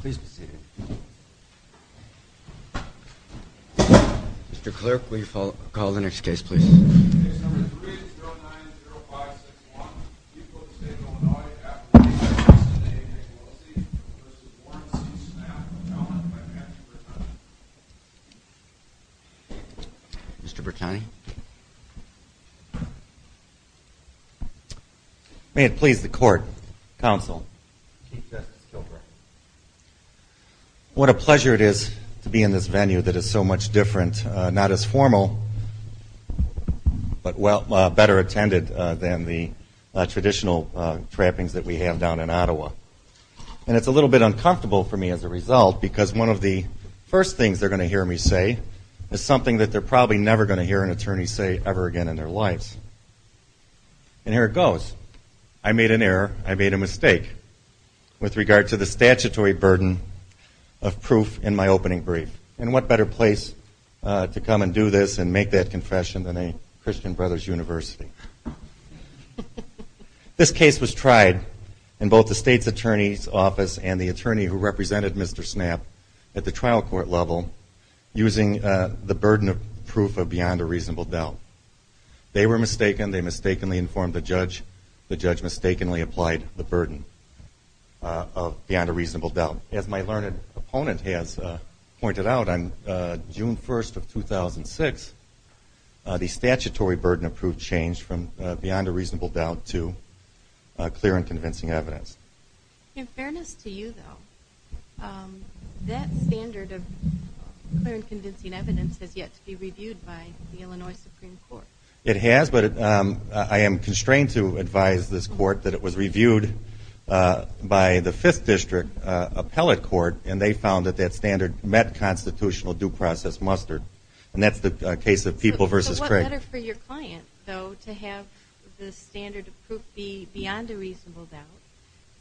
Please be seated. Mr. Clerk, will you call the next case please? Case number 3-090561, Eastwood State, Illinois, affidavit SNAE-AOLC v. Warren v. Snapp, challenged by Patrick Bertani. Mr. Bertani? May it please the Court, Counsel. Chief Justice Kilgore. What a pleasure it is to be in this venue that is so much different, not as formal, but better attended than the traditional trappings that we have down in Ottawa. And it's a little bit uncomfortable for me as a result because one of the first things they're going to hear me say is something that they're probably never going to hear an attorney say ever again in their lives. And here it goes. I made an error. I made a mistake with regard to the statutory burden of proof in my opening brief. And what better place to come and do this and make that confession than a Christian Brothers University? This case was tried in both the State's Attorney's Office and the attorney who represented Mr. Snapp at the trial court level using the burden of proof of beyond a reasonable doubt. They were mistaken. They mistakenly informed the judge. The judge mistakenly applied the burden of beyond a reasonable doubt. As my learned opponent has pointed out, on June 1st of 2006, the statutory burden of proof changed from beyond a reasonable doubt to clear and convincing evidence. In fairness to you, though, that standard of clear and convincing evidence has yet to be reviewed by the Illinois Supreme Court. It has, but I am constrained to advise this court that it was reviewed by the Fifth District Appellate Court and they found that that standard met constitutional due process muster. And that's the case of People v. Craig. So what better for your client, though, to have the standard of proof be beyond a reasonable doubt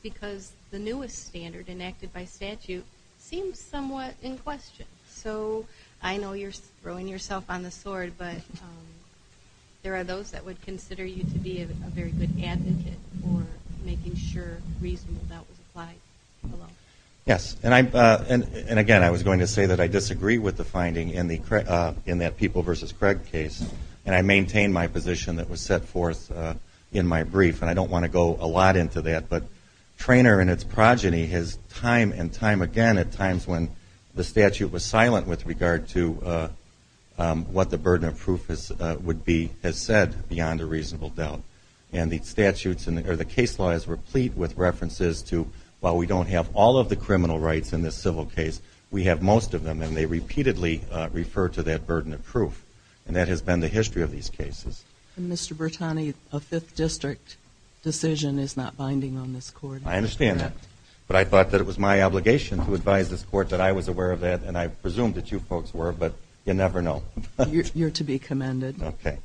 because the newest standard enacted by statute seems somewhat in question. So I know you're throwing yourself on the sword, but there are those that would consider you to be a very good advocate for making sure reasonable doubt was applied. Yes, and again, I was going to say that I disagree with the finding in that People v. Craig case. And I maintain my position that was set forth in my brief, and I don't want to go a lot into that. But Traynor and its progeny has time and time again at times when the statute was silent with regard to what the burden of proof would be as said beyond a reasonable doubt. And the case law is replete with references to while we don't have all of the criminal rights in this civil case, we have most of them. And they repeatedly refer to that burden of proof. And that has been the history of these cases. And, Mr. Bertani, a Fifth District decision is not binding on this court. I understand that. But I thought that it was my obligation to advise this court that I was aware of that, and I presume that you folks were, but you never know. You're to be commended. Okay.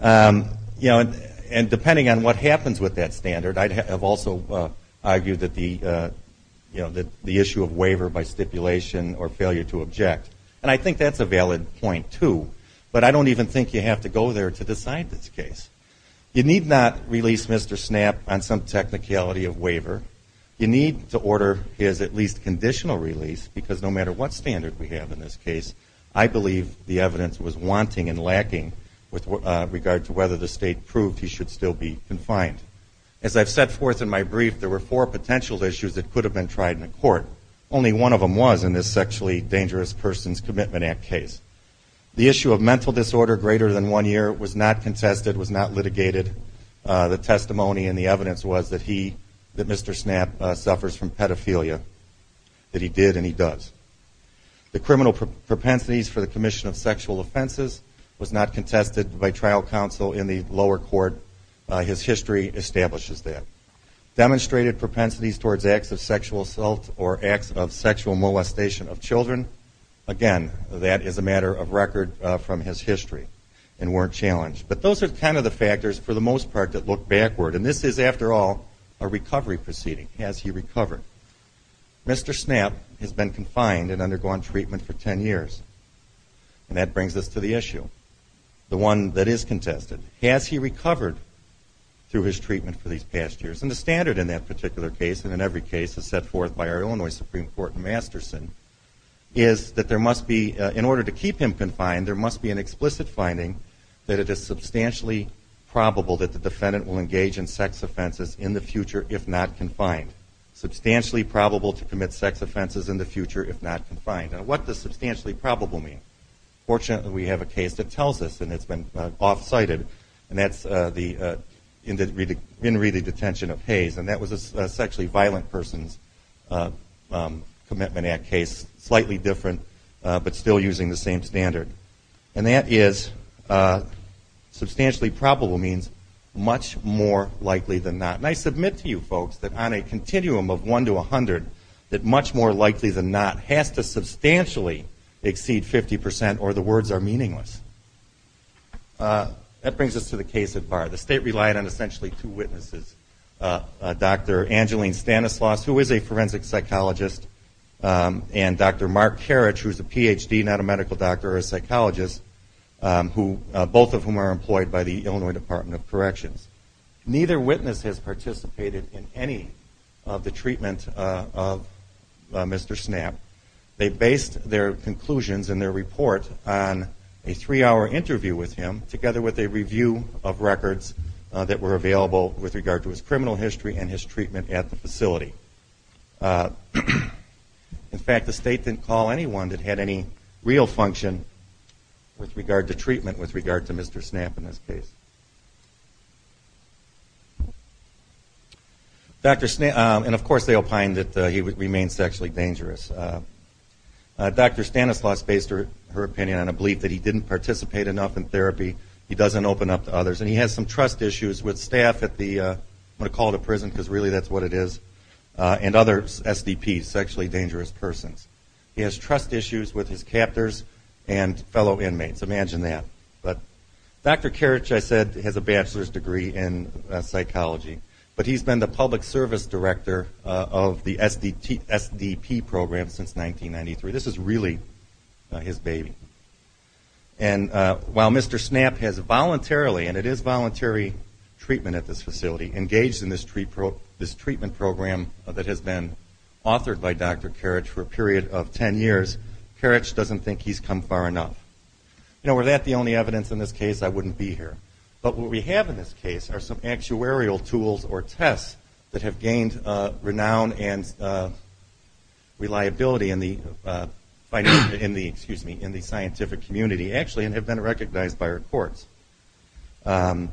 You know, and depending on what happens with that standard, I have also argued that the issue of waiver by stipulation or failure to object, and I think that's a valid point, too, but I don't even think you have to go there to decide this case. You need not release Mr. Snapp on some technicality of waiver. You need to order his at least conditional release, because no matter what standard we have in this case, I believe the evidence was wanting and lacking with regard to whether the state proved he should still be confined. As I've set forth in my brief, there were four potential issues that could have been tried in a court. Only one of them was in this Sexually Dangerous Persons Commitment Act case. The issue of mental disorder greater than one year was not contested, was not litigated. The testimony and the evidence was that he, that Mr. Snapp suffers from pedophilia, that he did and he does. The criminal propensities for the commission of sexual offenses was not contested by trial counsel in the lower court. His history establishes that. Demonstrated propensities towards acts of sexual assault or acts of sexual molestation of children, again, that is a matter of record from his history and weren't challenged. But those are kind of the factors, for the most part, that look backward, and this is, after all, a recovery proceeding. Has he recovered? Mr. Snapp has been confined and undergone treatment for ten years, and that brings us to the issue, the one that is contested. Has he recovered through his treatment for these past years? And the standard in that particular case, and in every case that's set forth by our Illinois Supreme Court in Masterson, is that there must be, in order to keep him confined, there must be an explicit finding that it is substantially probable that the defendant will engage in sex offenses in the future if not confined. Substantially probable to commit sex offenses in the future if not confined. Now, what does substantially probable mean? Fortunately, we have a case that tells us, and it's been off-cited, and that's the in-reading detention of Hayes, and that was a Sexually Violent Persons Commitment Act case, slightly different, but still using the same standard. And that is, substantially probable means much more likely than not. And I submit to you folks that on a continuum of one to a hundred, that much more likely than not has to substantially exceed 50% or the words are meaningless. That brings us to the case at bar. The State relied on essentially two witnesses, Dr. Angeline Stanislaus, who is a forensic psychologist, and Dr. Mark Karich, who is a Ph.D., not a medical doctor, or a psychologist, both of whom are employed by the Illinois Department of Corrections. Neither witness has participated in any of the treatment of Mr. Snap. They based their conclusions in their report on a three-hour interview with him, together with a review of records that were available with regard to his criminal history and his treatment at the facility. In fact, the State didn't call anyone that had any real function with regard to treatment with regard to Mr. Snap in this case. And, of course, they opined that he would remain sexually dangerous. Dr. Stanislaus based her opinion on a belief that he didn't participate enough in therapy, he doesn't open up to others, and he has some trust issues with staff at the, I'm going to call it a prison because really that's what it is, and other SDPs, sexually dangerous persons. He has trust issues with his captors and fellow inmates. Imagine that. Dr. Karich, I said, has a bachelor's degree in psychology, but he's been the public service director of the SDP program since 1993. This is really his baby. And while Mr. Snap has voluntarily, and it is voluntary treatment at this facility, engaged in this treatment program that has been authored by Dr. Karich for a period of ten years, Karich doesn't think he's come far enough. You know, were that the only evidence in this case, I wouldn't be here. But what we have in this case are some actuarial tools or tests that have gained renown and reliability in the scientific community, actually, and have been recognized by our courts. And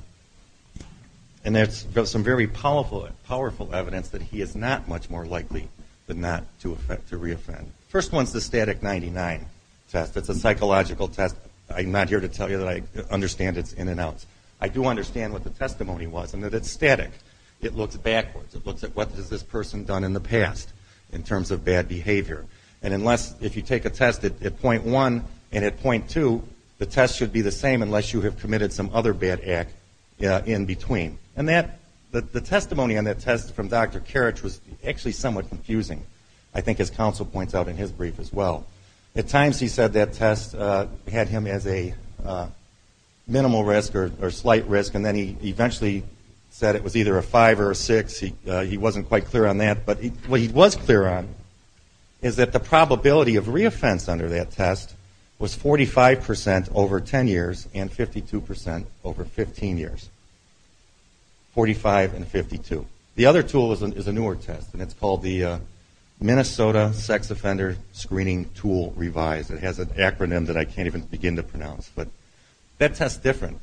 there's some very powerful evidence that he is not much more likely than not to reoffend. First one is the static 99 test. It's a psychological test. I'm not here to tell you that I understand its ins and outs. I do understand what the testimony was, and that it's static. It looks backwards. It looks at what has this person done in the past in terms of bad behavior. And if you take a test at point one and at point two, the test should be the same unless you have committed some other bad act in between. And the testimony on that test from Dr. Karich was actually somewhat confusing, I think as counsel points out in his brief as well. At times he said that test had him as a minimal risk or slight risk, and then he eventually said it was either a five or a six. He wasn't quite clear on that. But what he was clear on is that the probability of reoffense under that test was 45% over 10 years and 52% over 15 years, 45 and 52. The other tool is a newer test, and it's called the Minnesota Sex Offender Screening Tool Revised. It has an acronym that I can't even begin to pronounce. But that test is different.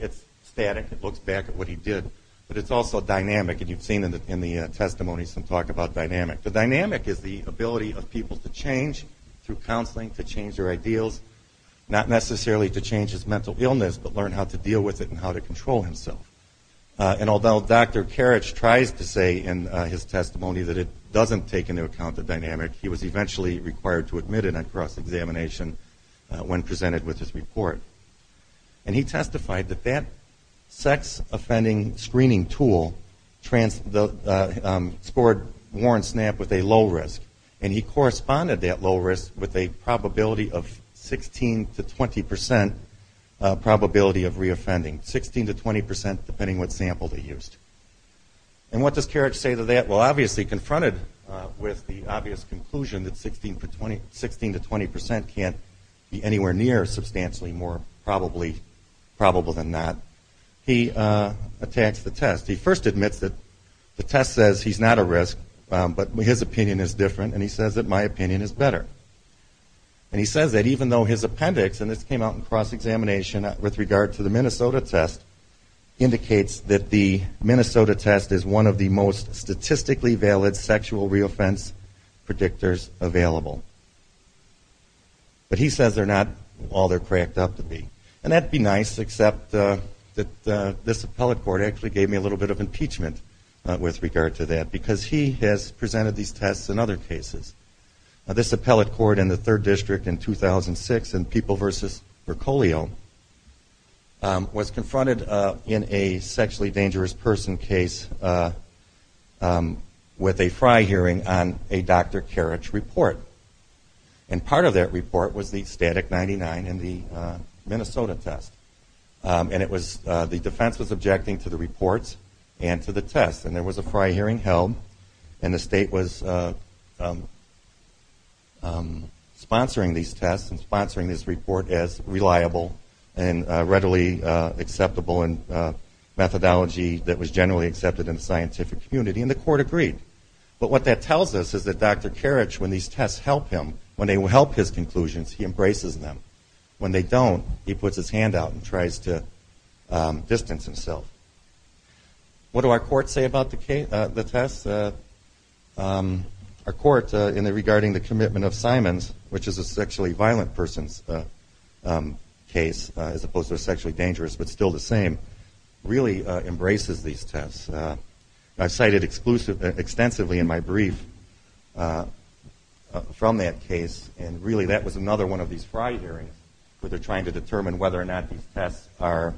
It's static. It looks back at what he did. But it's also dynamic, and you've seen in the testimony some talk about dynamic. The dynamic is the ability of people to change through counseling, to change their ideals, not necessarily to change his mental illness, but learn how to deal with it and how to control himself. And although Dr. Karich tries to say in his testimony that it doesn't take into account the dynamic, he was eventually required to admit it on cross-examination when presented with his report. And he testified that that sex offending screening tool scored Warren Snapp with a low risk, and he corresponded that low risk with a probability of 16 to 20% probability of reoffending, 16 to 20% depending what sample they used. And what does Karich say to that? Well, obviously confronted with the obvious conclusion that 16 to 20% can't be anywhere near substantially more probably than not, he attacks the test. He first admits that the test says he's not at risk, but his opinion is different, and he says that my opinion is better. And he says that even though his appendix, and this came out in cross-examination with regard to the Minnesota test, indicates that the Minnesota test is one of the most statistically valid sexual reoffense predictors available. But he says they're not all they're cracked up to be. And that would be nice, except that this appellate court actually gave me a little bit of impeachment with regard to that, because he has presented these tests in other cases. This appellate court in the 3rd District in 2006 in People v. Recolio was confronted in a sexually dangerous person case with a fry hearing on a Dr. Karich report. And part of that report was the static 99 in the Minnesota test. And the defense was objecting to the reports and to the test. And there was a fry hearing held, and the state was sponsoring these tests and sponsoring this report as reliable and readily acceptable in methodology that was generally accepted in the scientific community, and the court agreed. But what that tells us is that Dr. Karich, when these tests help him, when they help his conclusions, he embraces them. When they don't, he puts his hand out and tries to distance himself. What do our courts say about the tests? Our court regarding the commitment of Simons, which is a sexually violent person's case, as opposed to a sexually dangerous, but still the same, really embraces these tests. I've cited extensively in my brief from that case, and really that was another one of these fry hearings where they're trying to determine whether or not these tests are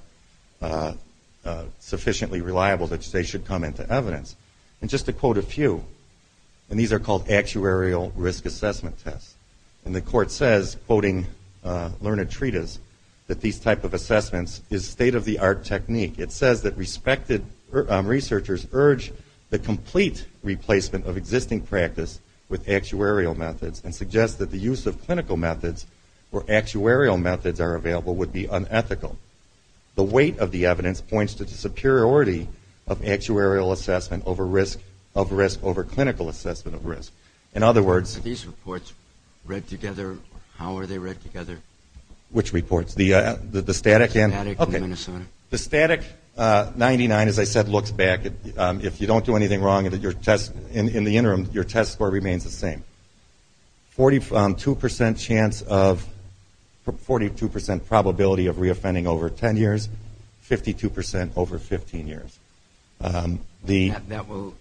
sufficiently reliable that they should come into evidence. And just to quote a few, and these are called actuarial risk assessment tests. And the court says, quoting learned treatise, that these type of assessments is state-of-the-art technique. It says that respected researchers urge the complete replacement of existing practice with actuarial methods and suggest that the use of clinical methods or actuarial methods are available would be unethical. The weight of the evidence points to the superiority of actuarial assessment over risk of risk, over clinical assessment of risk. In other words. Are these reports read together? How are they read together? Which reports? The static? The static 99, as I said, looks back. If you don't do anything wrong in the interim, your test score remains the same. 42% chance of, 42% probability of reoffending over 10 years. 52% over 15 years. That will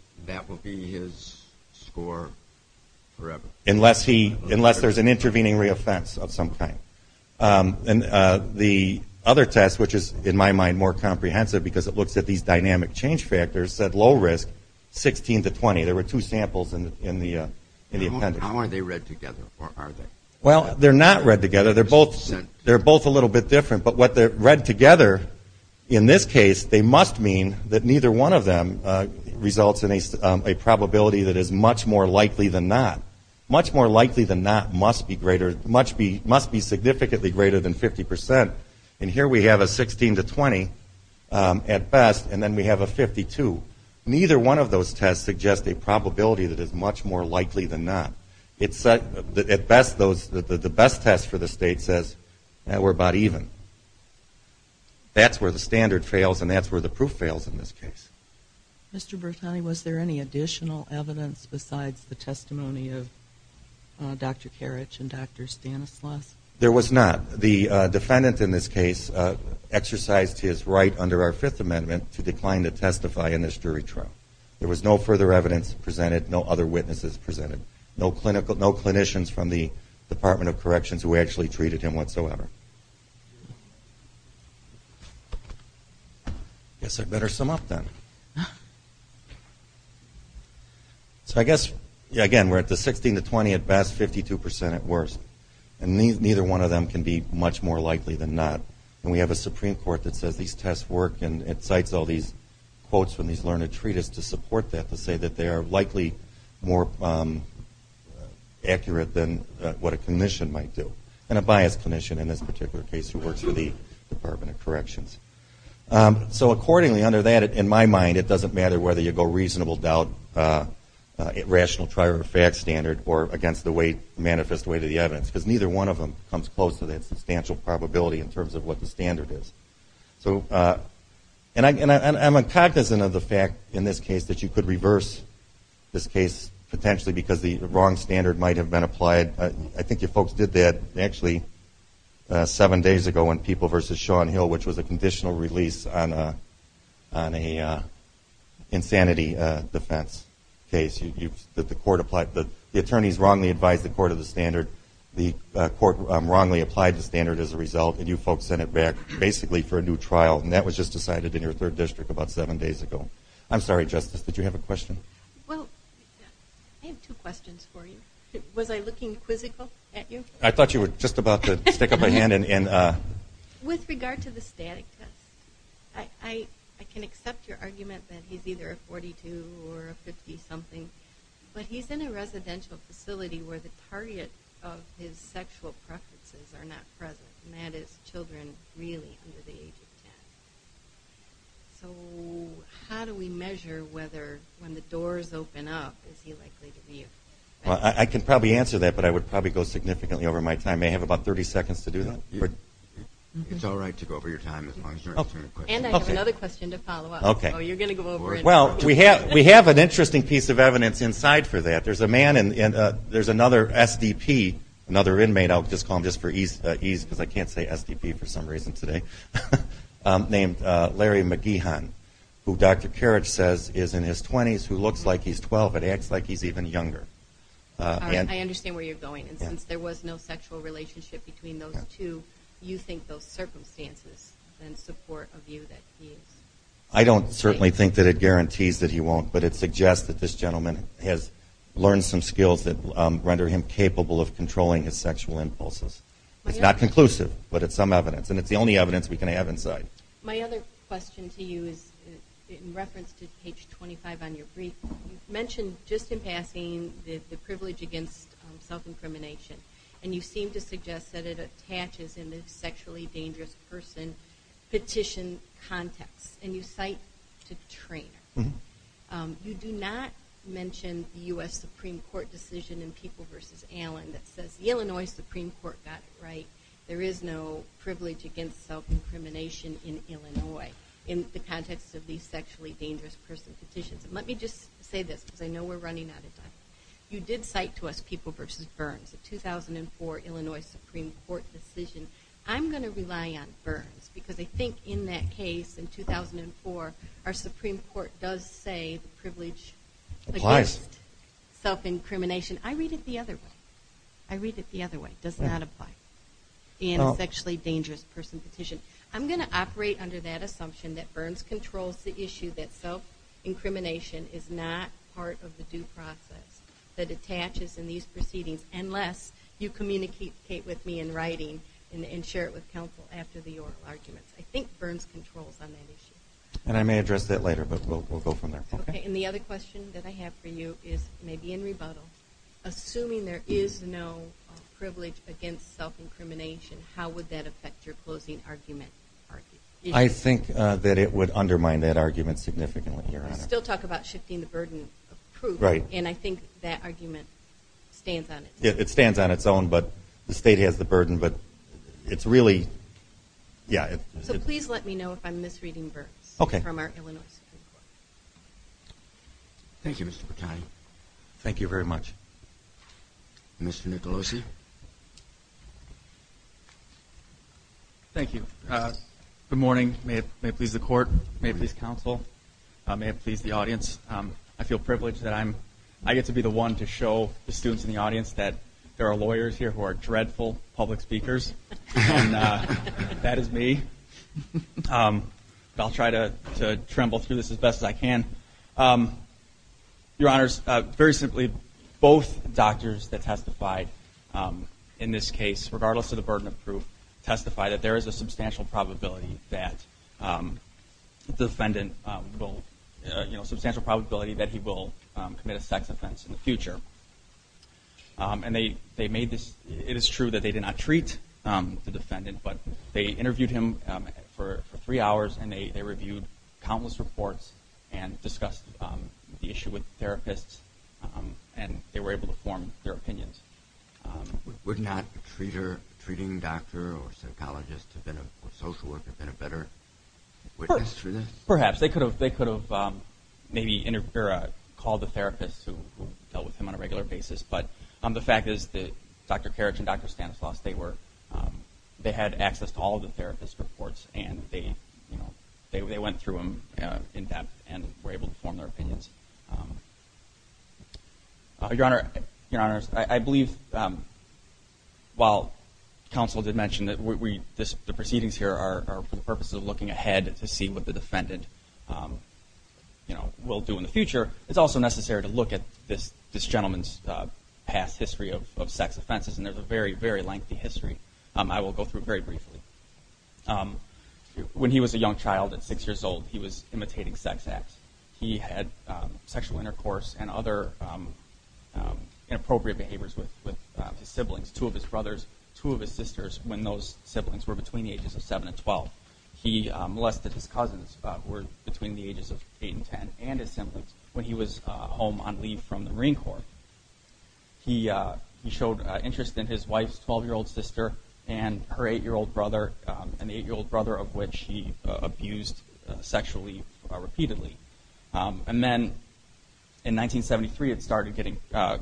be his score forever. Unless there's an intervening reoffense of some kind. The other test, which is in my mind more comprehensive because it looks at these dynamic change factors, said low risk, 16 to 20. There were two samples in the appendix. How are they read together? Well, they're not read together. They're both a little bit different. But what they're read together in this case, they must mean that neither one of them results in a probability that is much more likely than not. Much more likely than not must be significantly greater than 50%. And here we have a 16 to 20 at best and then we have a 52. Neither one of those tests suggest a probability that is much more likely than not. At best, the best test for the state says we're about even. That's where the standard fails and that's where the proof fails in this case. Mr. Bertani, was there any additional evidence besides the testimony of Dr. Karich and Dr. Stanislaus? There was not. The defendant in this case exercised his right under our Fifth Amendment to decline to testify in this jury trial. There was no further evidence presented, no other witnesses presented. No clinicians from the Department of Corrections who actually treated him whatsoever. I guess I'd better sum up then. So I guess, again, we're at the 16 to 20 at best, 52% at worst. And neither one of them can be much more likely than not. And we have a Supreme Court that says these tests work and it cites all these quotes from these learned treatise to support that to say that they are likely more accurate than what a clinician might do. And a biased clinician in this particular case who works for the Department of Corrections. So accordingly, under that, in my mind, it doesn't matter whether you go reasonable doubt, rational trial or fact standard, or against the way, manifest way to the evidence. That's what the standard is. And I'm cognizant of the fact in this case that you could reverse this case potentially because the wrong standard might have been applied. I think you folks did that actually seven days ago when people versus Sean Hill, which was a conditional release on a insanity defense case. The attorneys wrongly advised the court of the standard. The court wrongly applied the standard as a result and you folks sent it back basically for a new trial. And that was just decided in your third district about seven days ago. I'm sorry, Justice, did you have a question? Well, I have two questions for you. Was I looking quizzical at you? I thought you were just about to stick up a hand. With regard to the static test, I can accept your argument that he's either a 42 or a 50 something, but he's in a residential facility where the target of his sexual preferences are not present. And that is children really under the age of 10. So how do we measure whether when the doors open up, is he likely to leave? Well, I can probably answer that, but I would probably go significantly over my time. I have about 30 seconds to do that. It's all right to go over your time as long as you're answering the question. And I have another question to follow up. Well, we have an interesting piece of evidence inside for that. There's a man and there's another SDP, another inmate, I'll just call him just for ease because I can't say SDP for some reason today, named Larry McGeehan, who Dr. Karich says is in his 20s who looks like he's 12 but acts like he's even younger. I understand where you're going. And since there was no sexual relationship between those two, you think those circumstances and support of you that he is? I don't certainly think that it guarantees that he won't, but it suggests that this gentleman has learned some skills that render him capable of controlling his sexual impulses. It's not conclusive, but it's some evidence. And it's the only evidence we can have inside. My other question to you is in reference to page 25 on your brief, you mentioned just in passing the privilege against self-incrimination. And you seem to suggest that it attaches in the sexually dangerous person petition context. And you cite to Treanor. You do not mention the U.S. Supreme Court decision in People v. Allen that says the Illinois Supreme Court got it right. There is no privilege against self-incrimination in Illinois in the context of these sexually dangerous person petitions. Let me just say this because I know we're running out of time. You did cite to us People v. Burns, a 2004 Illinois Supreme Court decision. I'm going to rely on Burns because I think in that case in 2004, our Supreme Court does say the privilege against self-incrimination. I read it the other way. I read it the other way. It does not apply in a sexually dangerous person petition. I'm going to operate under that assumption that Burns controls the issue that self-incrimination is not part of the due process. That attaches in these proceedings unless you communicate with me in writing and share it with counsel after the oral arguments. I think Burns controls on that issue. And I may address that later, but we'll go from there. And the other question that I have for you is maybe in rebuttal. Assuming there is no privilege against self-incrimination, how would that affect your closing argument? I think that it would undermine that argument significantly, Your Honor. We still talk about shifting the burden of proof, and I think that argument stands on its own. It stands on its own, but the state has the burden. So please let me know if I'm misreading Burns from our Illinois Supreme Court. Thank you, Mr. Bertani. Thank you very much. Mr. Nicolosi. Thank you. Good morning. May it please the Court, may it please counsel, may it please the audience. I feel privileged that I get to be the one to show the students in the audience that there are lawyers here who are dreadful public speakers, and that is me. But I'll try to tremble through this as best as I can. Your Honors, very simply, both doctors that testified in this case, regardless of the burden of proof, testified that there is a substantial probability that the defendant will, you know, a substantial probability that he will commit a sex offense in the future. And they made this, it is true that they did not treat the defendant, but they interviewed him for three hours, and they reviewed countless reports and discussed the issue with therapists, and they were able to form their opinions. Would not a treater, a treating doctor or a psychologist or social worker have been a better witness to this? Perhaps. They could have maybe called the therapist who dealt with him on a regular basis, but the fact is that Dr. Karich and Dr. Stanislaus, they were, they had access to all of the therapist's reports, and they went through them in depth and were able to form their opinions. Your Honors, I believe, while counsel did mention that the proceedings here are for the purposes of looking ahead to see what the defendant will do in the future, it's also necessary to look at this gentleman's past history of sex offenses, and there's a very, very lengthy history. I will go through it very briefly. When he was a young child at six years old, he was imitating sex acts. He had sexual intercourse and other inappropriate behaviors with his siblings, two of his brothers, two of his sisters, when those siblings were between the ages of seven and 12. He molested his cousins, who were between the ages of eight and 10, and his siblings when he was home on leave from the Marine Corps. He showed interest in his wife's 12-year-old sister and her eight-year-old brother, an eight-year-old brother of which he abused sexually repeatedly. And then in 1973, it started getting criminal.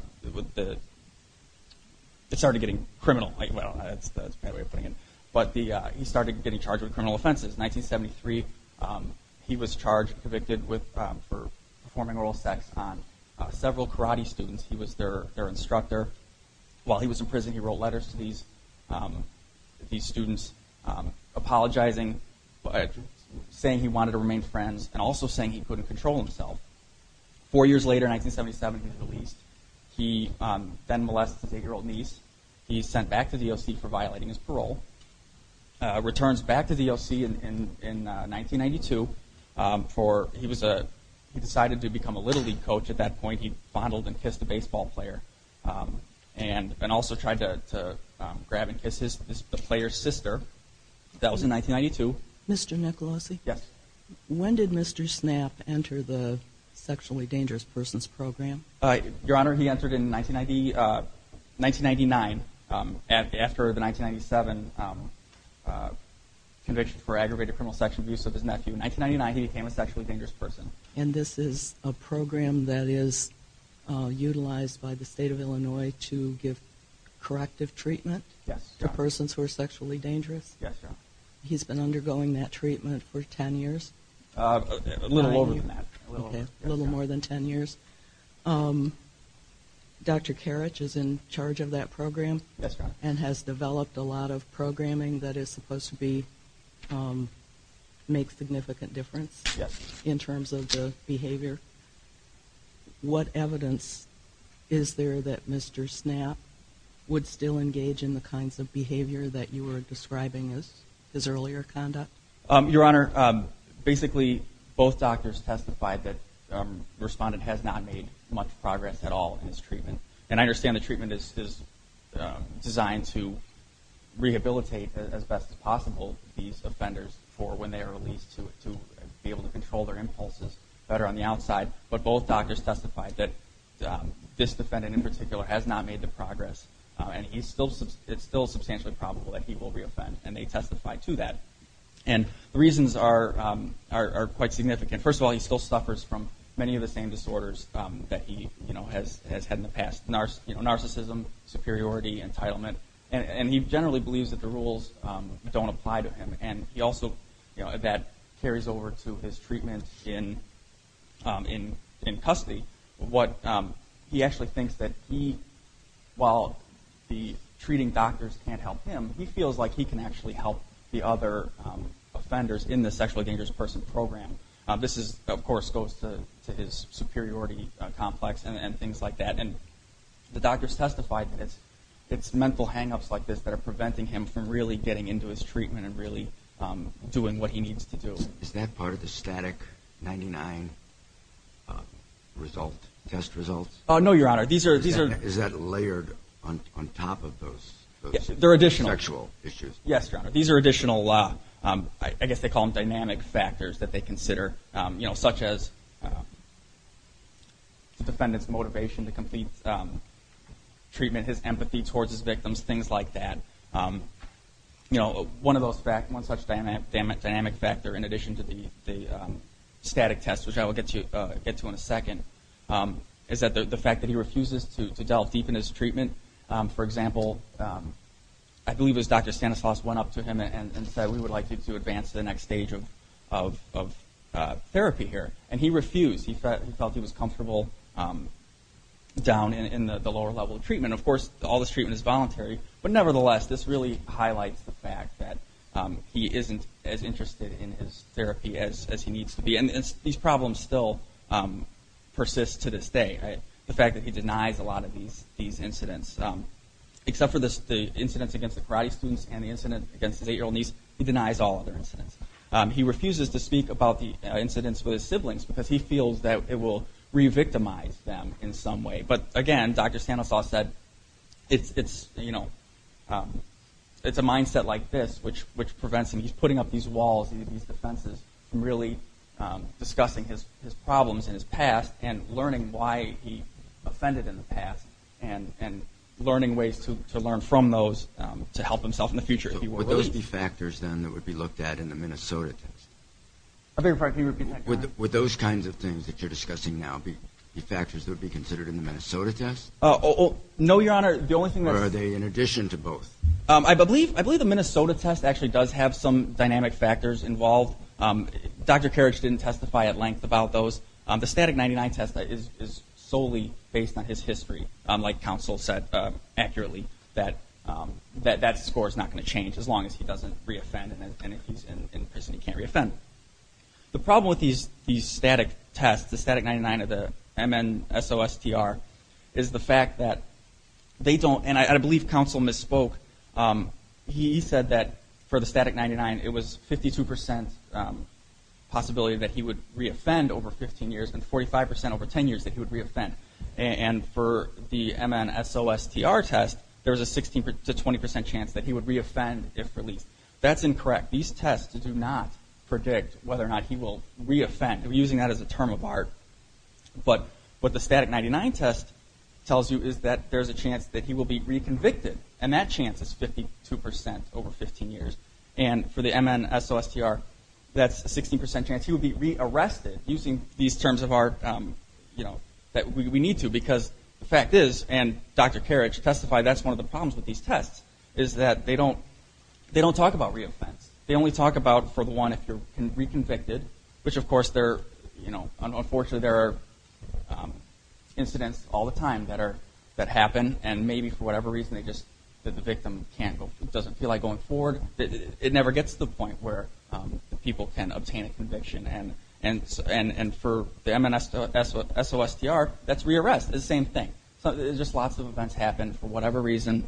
But he started getting charged with criminal offenses. In 1973, he was charged and convicted for performing oral sex on several karate students. He was their instructor. While he was in prison, he wrote letters to these students apologizing, saying he wanted to remain friends, and also saying he couldn't control himself. Four years later, in 1977, he was released. He then molested his eight-year-old niece. He's sent back to the O.C. for violating his parole. Returns back to the O.C. in 1992. He decided to become a Little League coach. At that point, he fondled and kissed a baseball player, and also tried to grab and kiss the player's sister. That was in 1992. Mr. Nicolosi, when did Mr. Snap enter the Sexually Dangerous Persons Program? Your Honor, he entered in 1999, after the 1997 conviction for aggravated criminal sex abuse of his nephew. In 1999, he became a sexually dangerous person. And this is a program that is utilized by the State of Illinois to give corrective treatment to persons who are sexually dangerous? Yes, Your Honor. He's been undergoing that treatment for ten years? A little more than that. A little more than ten years. Dr. Karich is in charge of that program? Yes, Your Honor. And has developed a lot of programming that is supposed to make significant difference in terms of the behavior? What evidence is there that Mr. Snap would still engage in the kinds of behavior that you were describing as his earlier conduct? Your Honor, basically, both doctors testified that the respondent has not made much progress at all in his treatment. And I understand the treatment is designed to rehabilitate, as best as possible, these offenders for when they are released, to be able to control their impulses better on the outside. But both doctors testified that this defendant, in particular, has not made the progress. And it's still substantially probable that he will reoffend, and they testified to that. And the reasons are quite significant. First of all, he still suffers from many of the same disorders that he has had in the past. Narcissism, superiority, entitlement. And he generally believes that the rules don't apply to him. And that carries over to his treatment in custody. He actually thinks that while the treating doctors can't help him, he feels like he can actually help the other offenders in the sexually dangerous person program. This, of course, goes to his superiority complex and things like that. And the doctors testified that it's mental hang-ups like this that are preventing him from really getting into his treatment and really doing what he needs to do. Is that part of the static 99 test results? No, Your Honor. Is that layered on top of those sexual issues? Yes, Your Honor. These are additional, I guess they call them dynamic factors that they consider, such as the defendant's motivation to complete treatment, his empathy towards his victims, things like that. One such dynamic factor in addition to the static test, which I will get to in a second, is the fact that he refuses to delve deep into his treatment. For example, I believe it was Dr. Stanislaus went up to him and said, we would like you to advance to the next stage of therapy here. And he refused. He felt he was comfortable down in the lower level of treatment. Of course, all this treatment is voluntary. But nevertheless, this really highlights the fact that he isn't as interested in his therapy as he needs to be. And these problems still persist to this day. The fact that he denies a lot of these incidents. Except for the incidents against the karate students and the incident against his 8-year-old niece, he denies all other incidents. He refuses to speak about the incidents with his siblings because he feels that it will re-victimize them in some way. But again, Dr. Stanislaus said, it's a mindset like this which prevents him. He's putting up these walls, these defenses, from really discussing his problems in his past and learning why he offended in the past. And learning ways to learn from those to help himself in the future. Would those be factors then that would be looked at in the Minnesota test? Would those kinds of things that you're discussing now be factors that would be considered in the Minnesota test? No, Your Honor. I believe the Minnesota test actually does have some dynamic factors involved. Dr. Karich didn't testify at length about those. The static 99 test is solely based on his history. Like counsel said accurately, that score is not going to change as long as he doesn't re-offend. And if he's in prison, he can't re-offend. The problem with these static tests, the static 99 of the MN SOSTR, is the fact that they don't, and I believe counsel misspoke, he said that for the static 99, it was 52% possibility that he would re-offend over 15 years, and 45% over 10 years that he would re-offend. And for the MN SOSTR test, there's a 16 to 20% chance that he would re-offend if released. That's incorrect. These tests do not predict whether or not he will re-offend. We're using that as a term of art. But what the static 99 test tells you is that there's a chance that he will be re-convicted, and that chance is 52% over 15 years. And for the MN SOSTR, that's a 16% chance he will be re-arrested using these terms of art that we need to, because the fact is, and Dr. Karich testified that's one of the problems with these tests, is that they don't talk about re-offense. They only talk about for the one if you're re-convicted, which of course, unfortunately there are incidents all the time that happen, and maybe for whatever reason the victim doesn't feel like going forward. It never gets to the point where people can obtain a conviction. And for the MN SOSTR, that's re-arrest. It's the same thing. Just lots of events happen. For whatever reason,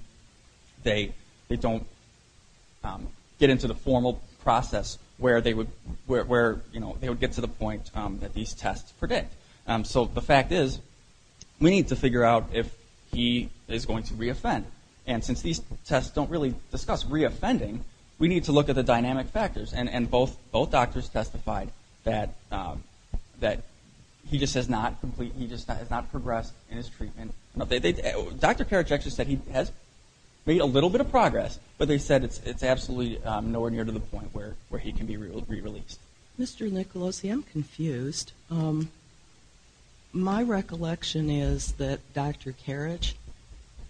they don't get into the formal process where they would get to the point that these tests predict. So the fact is, we need to figure out if he is going to re-offend. And since these tests don't really discuss re-offending, we need to look at the dynamic factors. And both doctors testified that he just has not progressed in his treatment. Dr. Karich actually said he has made a little bit of progress, but they said it's absolutely nowhere near to the point where he can be re-released. Mr. Nicolosi, I'm confused. My recollection is that Dr. Karich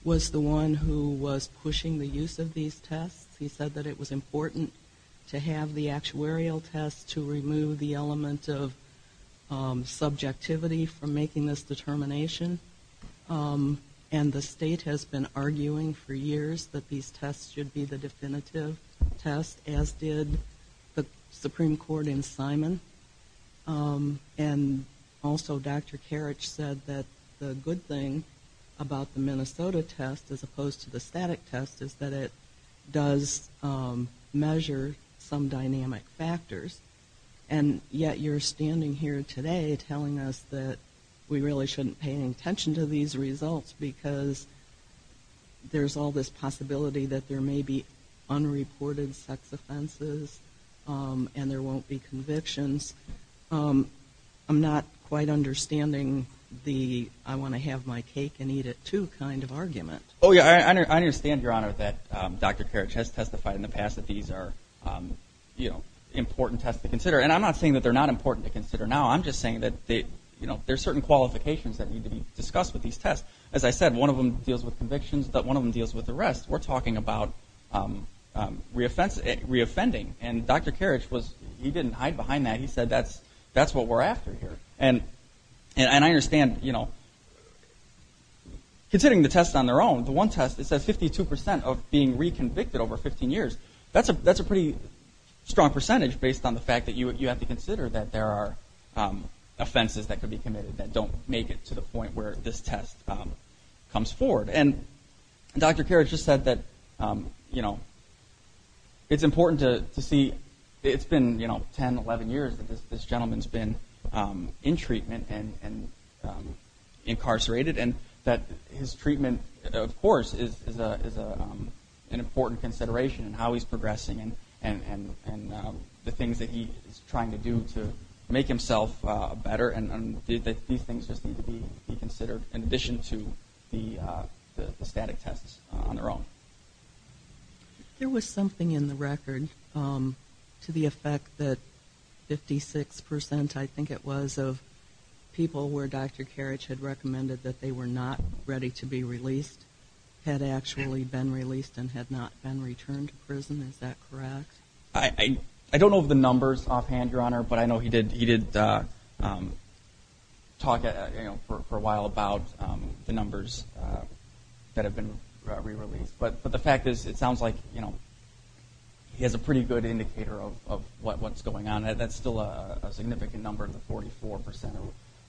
was the one who was pushing the use of these tests. He said that it was important to have the actuarial test to remove the element of subjectivity from making this determination. And the state has been arguing for years that these tests should be the definitive test, as did the Supreme Court in Simon. And also Dr. Karich said that the good thing about the Minnesota test, as opposed to the static test, is that it does measure some dynamic factors. And yet you're standing here today telling us that we really shouldn't pay any attention to these results because there's all this possibility that there may be unreported sex offenses and there won't be convictions. I'm not quite understanding the I-want-to-have-my-cake-and-eat-it-too kind of argument. I understand, Your Honor, that Dr. Karich has testified in the past that these are important tests to consider. And I'm not saying that they're not important to consider now. I'm just saying that there are certain qualifications that need to be discussed with these tests. As I said, one of them deals with convictions, but one of them deals with arrests. We're talking about reoffending, and Dr. Karich, he didn't hide behind that. He said that's what we're after here. And I understand, you know, considering the tests on their own, the one test that says 52 percent of being reconvicted over 15 years, that's a pretty strong percentage based on the fact that you have to consider that there are offenses that could be committed that don't make it to the point where this test comes forward. And Dr. Karich just said that it's important to see, it's been 10, 11 years that this gentleman's been in treatment and incarcerated and that his treatment, of course, is an important consideration and how he's progressing and the things that he's trying to do to make himself better. And these things just need to be considered in addition to the static tests on their own. There was something in the record to the effect that 56 percent, I think it was, of people where Dr. Karich had recommended that they were not ready to be released had actually been released and had not been returned to prison, is that correct? I don't know the numbers offhand, Your Honor, but I know he did talk for a while about the numbers that have been re-released. But the fact is, it sounds like he has a pretty good indicator of what's going on. That's still a significant number, the 44 percent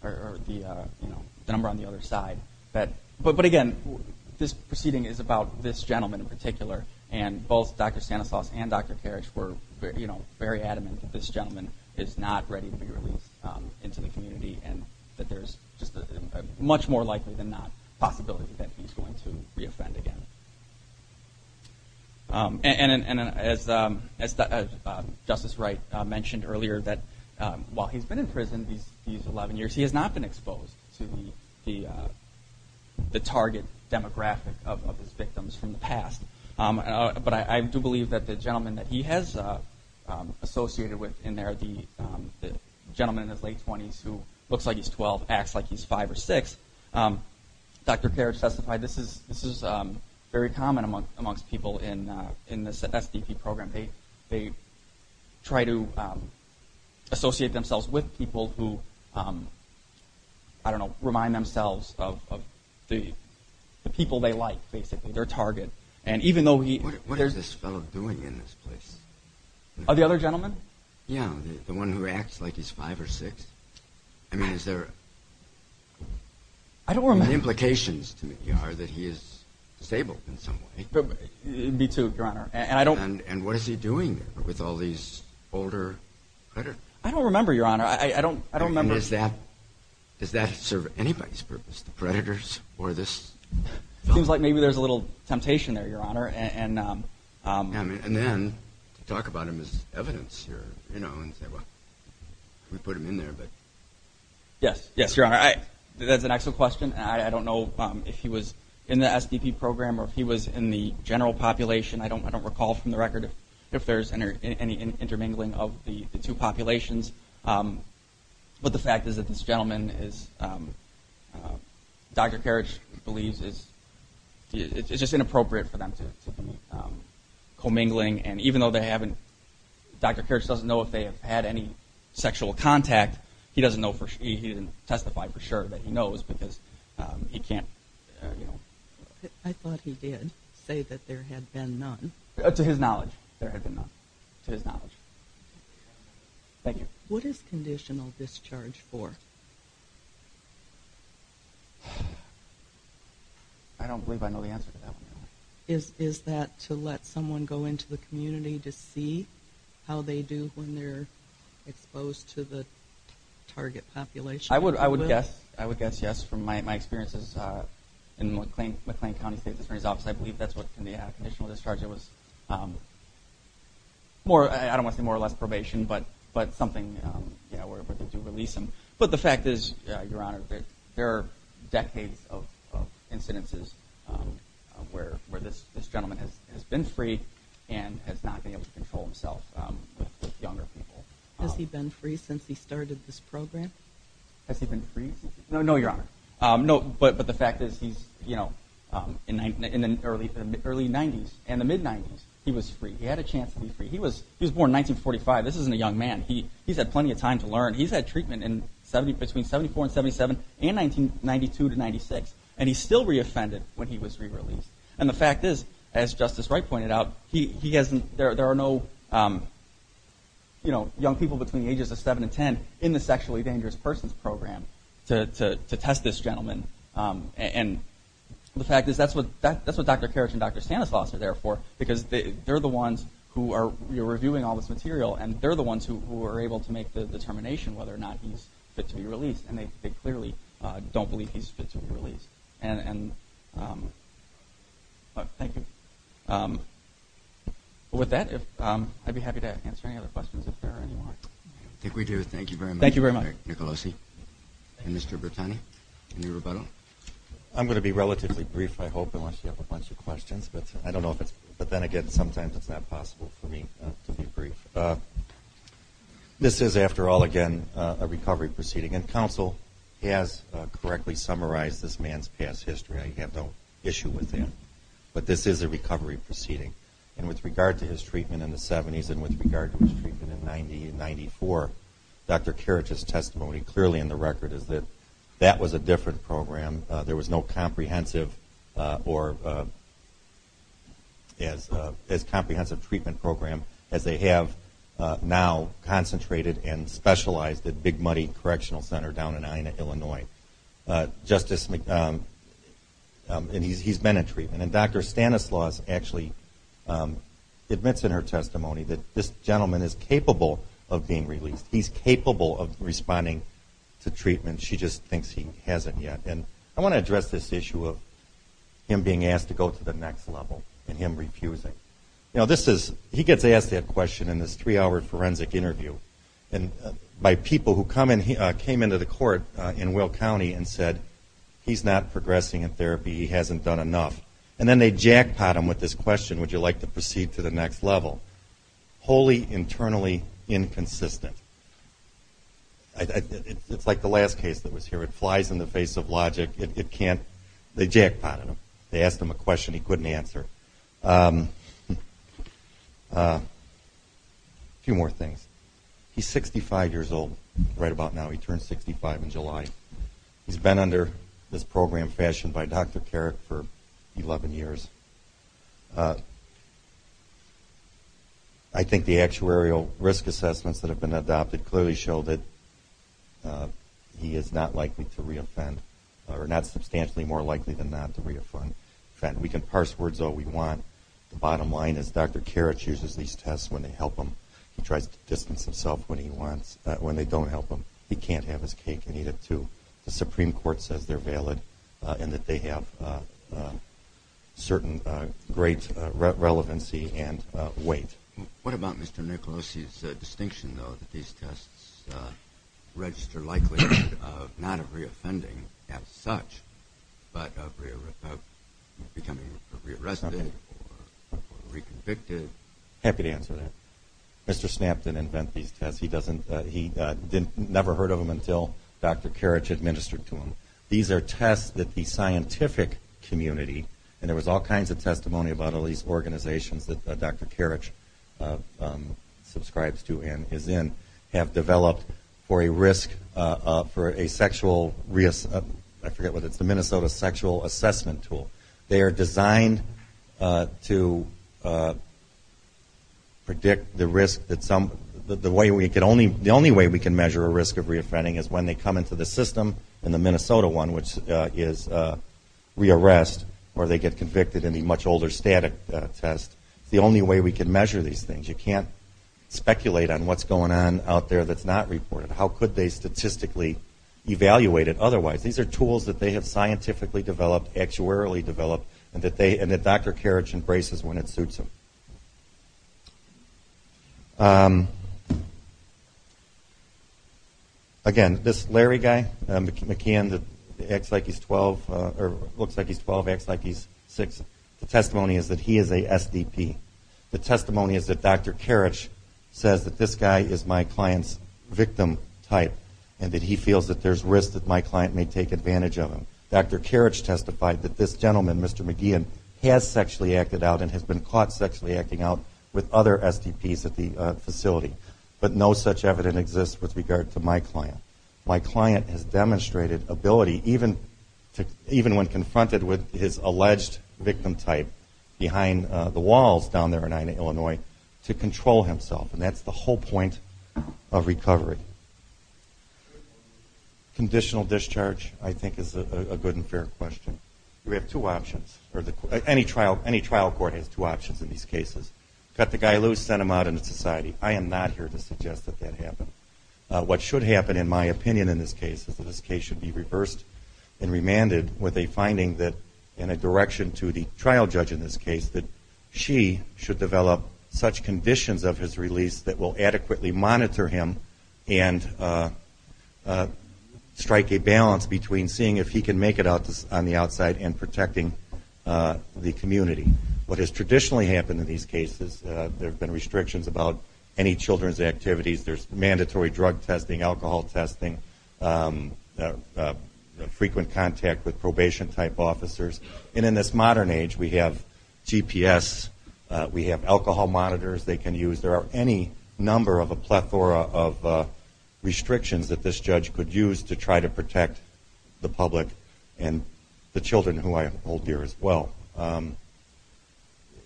or the number on the other side. But again, this proceeding is about this gentleman in particular and both Dr. Stanislaus and Dr. Karich were very adamant that this gentleman is not ready to be released into the community and that there's just a much more likely than not possibility that he's going to re-offend again. And as Justice Wright mentioned earlier, that while he's been in prison these 11 years, he has not been exposed to the target demographic of his victims from the past. But I do believe that the gentleman that he has associated with in there, the gentleman in his late 20s who looks like he's 12, acts like he's 5 or 6, Dr. Karich testified this is very common amongst people in the SDP program. I don't know, remind themselves of the people they like, basically, their target. What is this fellow doing in this place? Oh, the other gentleman? Yeah, the one who acts like he's 5 or 6. I mean, is there... I don't remember. The implications to me are that he is disabled in some way. Me too, Your Honor. And what is he doing there with all these older... I don't remember, Your Honor. I don't remember. And does that serve anybody's purpose, the predators or this fellow? It seems like maybe there's a little temptation there, Your Honor. And then to talk about him as evidence here, you know, and say, well, we put him in there, but... Yes, yes, Your Honor. That's an excellent question. I don't know if he was in the SDP program or if he was in the general population. I don't recall from the record if there's any intermingling of the two populations. But the fact is that this gentleman, Dr. Karich, believes it's just inappropriate for them to be commingling. And even though Dr. Karich doesn't know if they have had any sexual contact, he didn't testify for sure that he knows because he can't, you know... I thought he did say that there had been none. To his knowledge, there had been none. To his knowledge. Thank you. What is conditional discharge for? I don't believe I know the answer to that one, Your Honor. Is that to let someone go into the community to see how they do when they're exposed to the target population? I would guess yes. From my experiences in McLean County State's Attorney's Office, I believe that's what can be a conditional discharge. It was more, I don't want to say more or less probation, but something where they do release them. But the fact is, Your Honor, there are decades of incidences where this gentleman has been free and has not been able to control himself with younger people. Has he been free since he started this program? Has he been free? No, Your Honor. But the fact is, in the early 90s and the mid-90s, he was free. He had a chance to be free. He was born in 1945. This isn't a young man. He's had plenty of time to learn. He's had treatment between 74 and 77 and 1992 to 96, and he still re-offended when he was re-released. And the fact is, as Justice Wright pointed out, there are no young people between the ages of 7 and 10 in the Sexually Dangerous Persons Program to test this gentleman. And the fact is, that's what Dr. Karich and Dr. Stanislaus are there for because they're the ones who are reviewing all this material, and they're the ones who are able to make the determination whether or not he's fit to be released, and they clearly don't believe he's fit to be released. Thank you. With that, I'd be happy to answer any other questions if there are any more. I think we do. Thank you very much, Dr. Nicolosi and Mr. Bertani. Any rebuttals? I'm going to be relatively brief, I hope, unless you have a bunch of questions. But I don't know if it's brief, but then again, sometimes it's not possible for me to be brief. This is, after all, again, a recovery proceeding, and counsel has correctly summarized this man's past history. I have no issue with that. But this is a recovery proceeding, and with regard to his treatment in the 70s and with regard to his treatment in the 90 and 94, Dr. Carrich's testimony clearly in the record is that that was a different program. There was no comprehensive treatment program as they have now concentrated and specialized at Big Muddy Correctional Center down in Ina, Illinois. And he's been in treatment. And Dr. Stanislaus actually admits in her testimony that this gentleman is capable of being released. He's capable of responding to treatment. She just thinks he hasn't yet. And I want to address this issue of him being asked to go to the next level and him refusing. He gets asked that question in this three-hour forensic interview by people who came into the court in Will County and said, He's not progressing in therapy. He hasn't done enough. And then they jackpot him with this question, Would you like to proceed to the next level? Wholly internally inconsistent. It's like the last case that was here. It flies in the face of logic. They jackpotted him. They asked him a question he couldn't answer. A few more things. He's 65 years old right about now. He turned 65 in July. He's been under this program fashioned by Dr. Karich for 11 years. I think the actuarial risk assessments that have been adopted clearly show that he is not likely to reoffend or not substantially more likely than not to reoffend. We can parse words all we want. The bottom line is Dr. Karich uses these tests when they help him. He tries to distance himself when they don't help him. He can't have his cake and eat it, too. The Supreme Court says they're valid and that they have certain great relevancy and weight. What about Mr. Nicolosi's distinction, though, that these tests register likelihood not of reoffending as such but of becoming re-arrested or re-convicted? Happy to answer that. Mr. Snapp didn't invent these tests. He never heard of them until Dr. Karich administered to him. These are tests that the scientific community, and there was all kinds of testimony about all these organizations that Dr. Karich subscribes to and is in, have developed for a sexual reassessment tool. They are designed to predict the risk. The only way we can measure a risk of reoffending is when they come into the system in the Minnesota one, which is re-arrest or they get convicted in the much older static test. It's the only way we can measure these things. You can't speculate on what's going on out there that's not reported. How could they statistically evaluate it otherwise? These are tools that they have scientifically developed, actuarially developed, and that Dr. Karich embraces when it suits him. Again, this Larry guy, McKeon, looks like he's 12, acts like he's 6. The testimony is that he is a SDP. The testimony is that Dr. Karich says that this guy is my client's victim type and that he feels that there's risk that my client may take advantage of him. Dr. Karich testified that this gentleman, Mr. McKeon, has sexually acted out and has been caught sexually acting out with other SDPs at the facility. But no such evidence exists with regard to my client. My client has demonstrated ability, even when confronted with his alleged victim type, behind the walls down there in Illinois, to control himself. And that's the whole point of recovery. Conditional discharge, I think, is a good and fair question. We have two options. Any trial court has two options in these cases. Cut the guy loose, send him out into society. I am not here to suggest that that happened. What should happen, in my opinion in this case, is that this case should be reversed and remanded with a finding and a direction to the trial judge in this case that she should develop such conditions of his release that will adequately monitor him and strike a balance between seeing if he can make it out on the outside and protecting the community. What has traditionally happened in these cases, there have been restrictions about any children's activities. There's mandatory drug testing, alcohol testing, frequent contact with probation type officers. And in this modern age, we have GPS, we have alcohol monitors they can use. There are any number of a plethora of restrictions that this judge could use to try to protect the public and the children who I hold dear as well.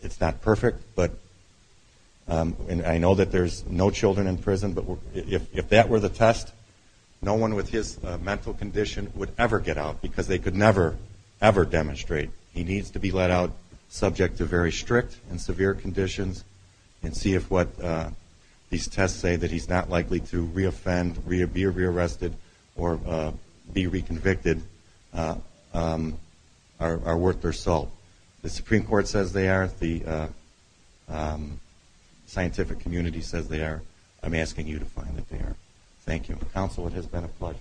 It's not perfect, and I know that there's no children in prison, but if that were the test, no one with his mental condition would ever get out because they could never, ever demonstrate. He needs to be let out subject to very strict and severe conditions and see if what these tests say that he's not likely to reoffend, be rearrested, or be reconvicted are worth their salt. The Supreme Court says they are. The scientific community says they are. I'm asking you to find that they are. Thank you. Counsel, it has been a pleasure.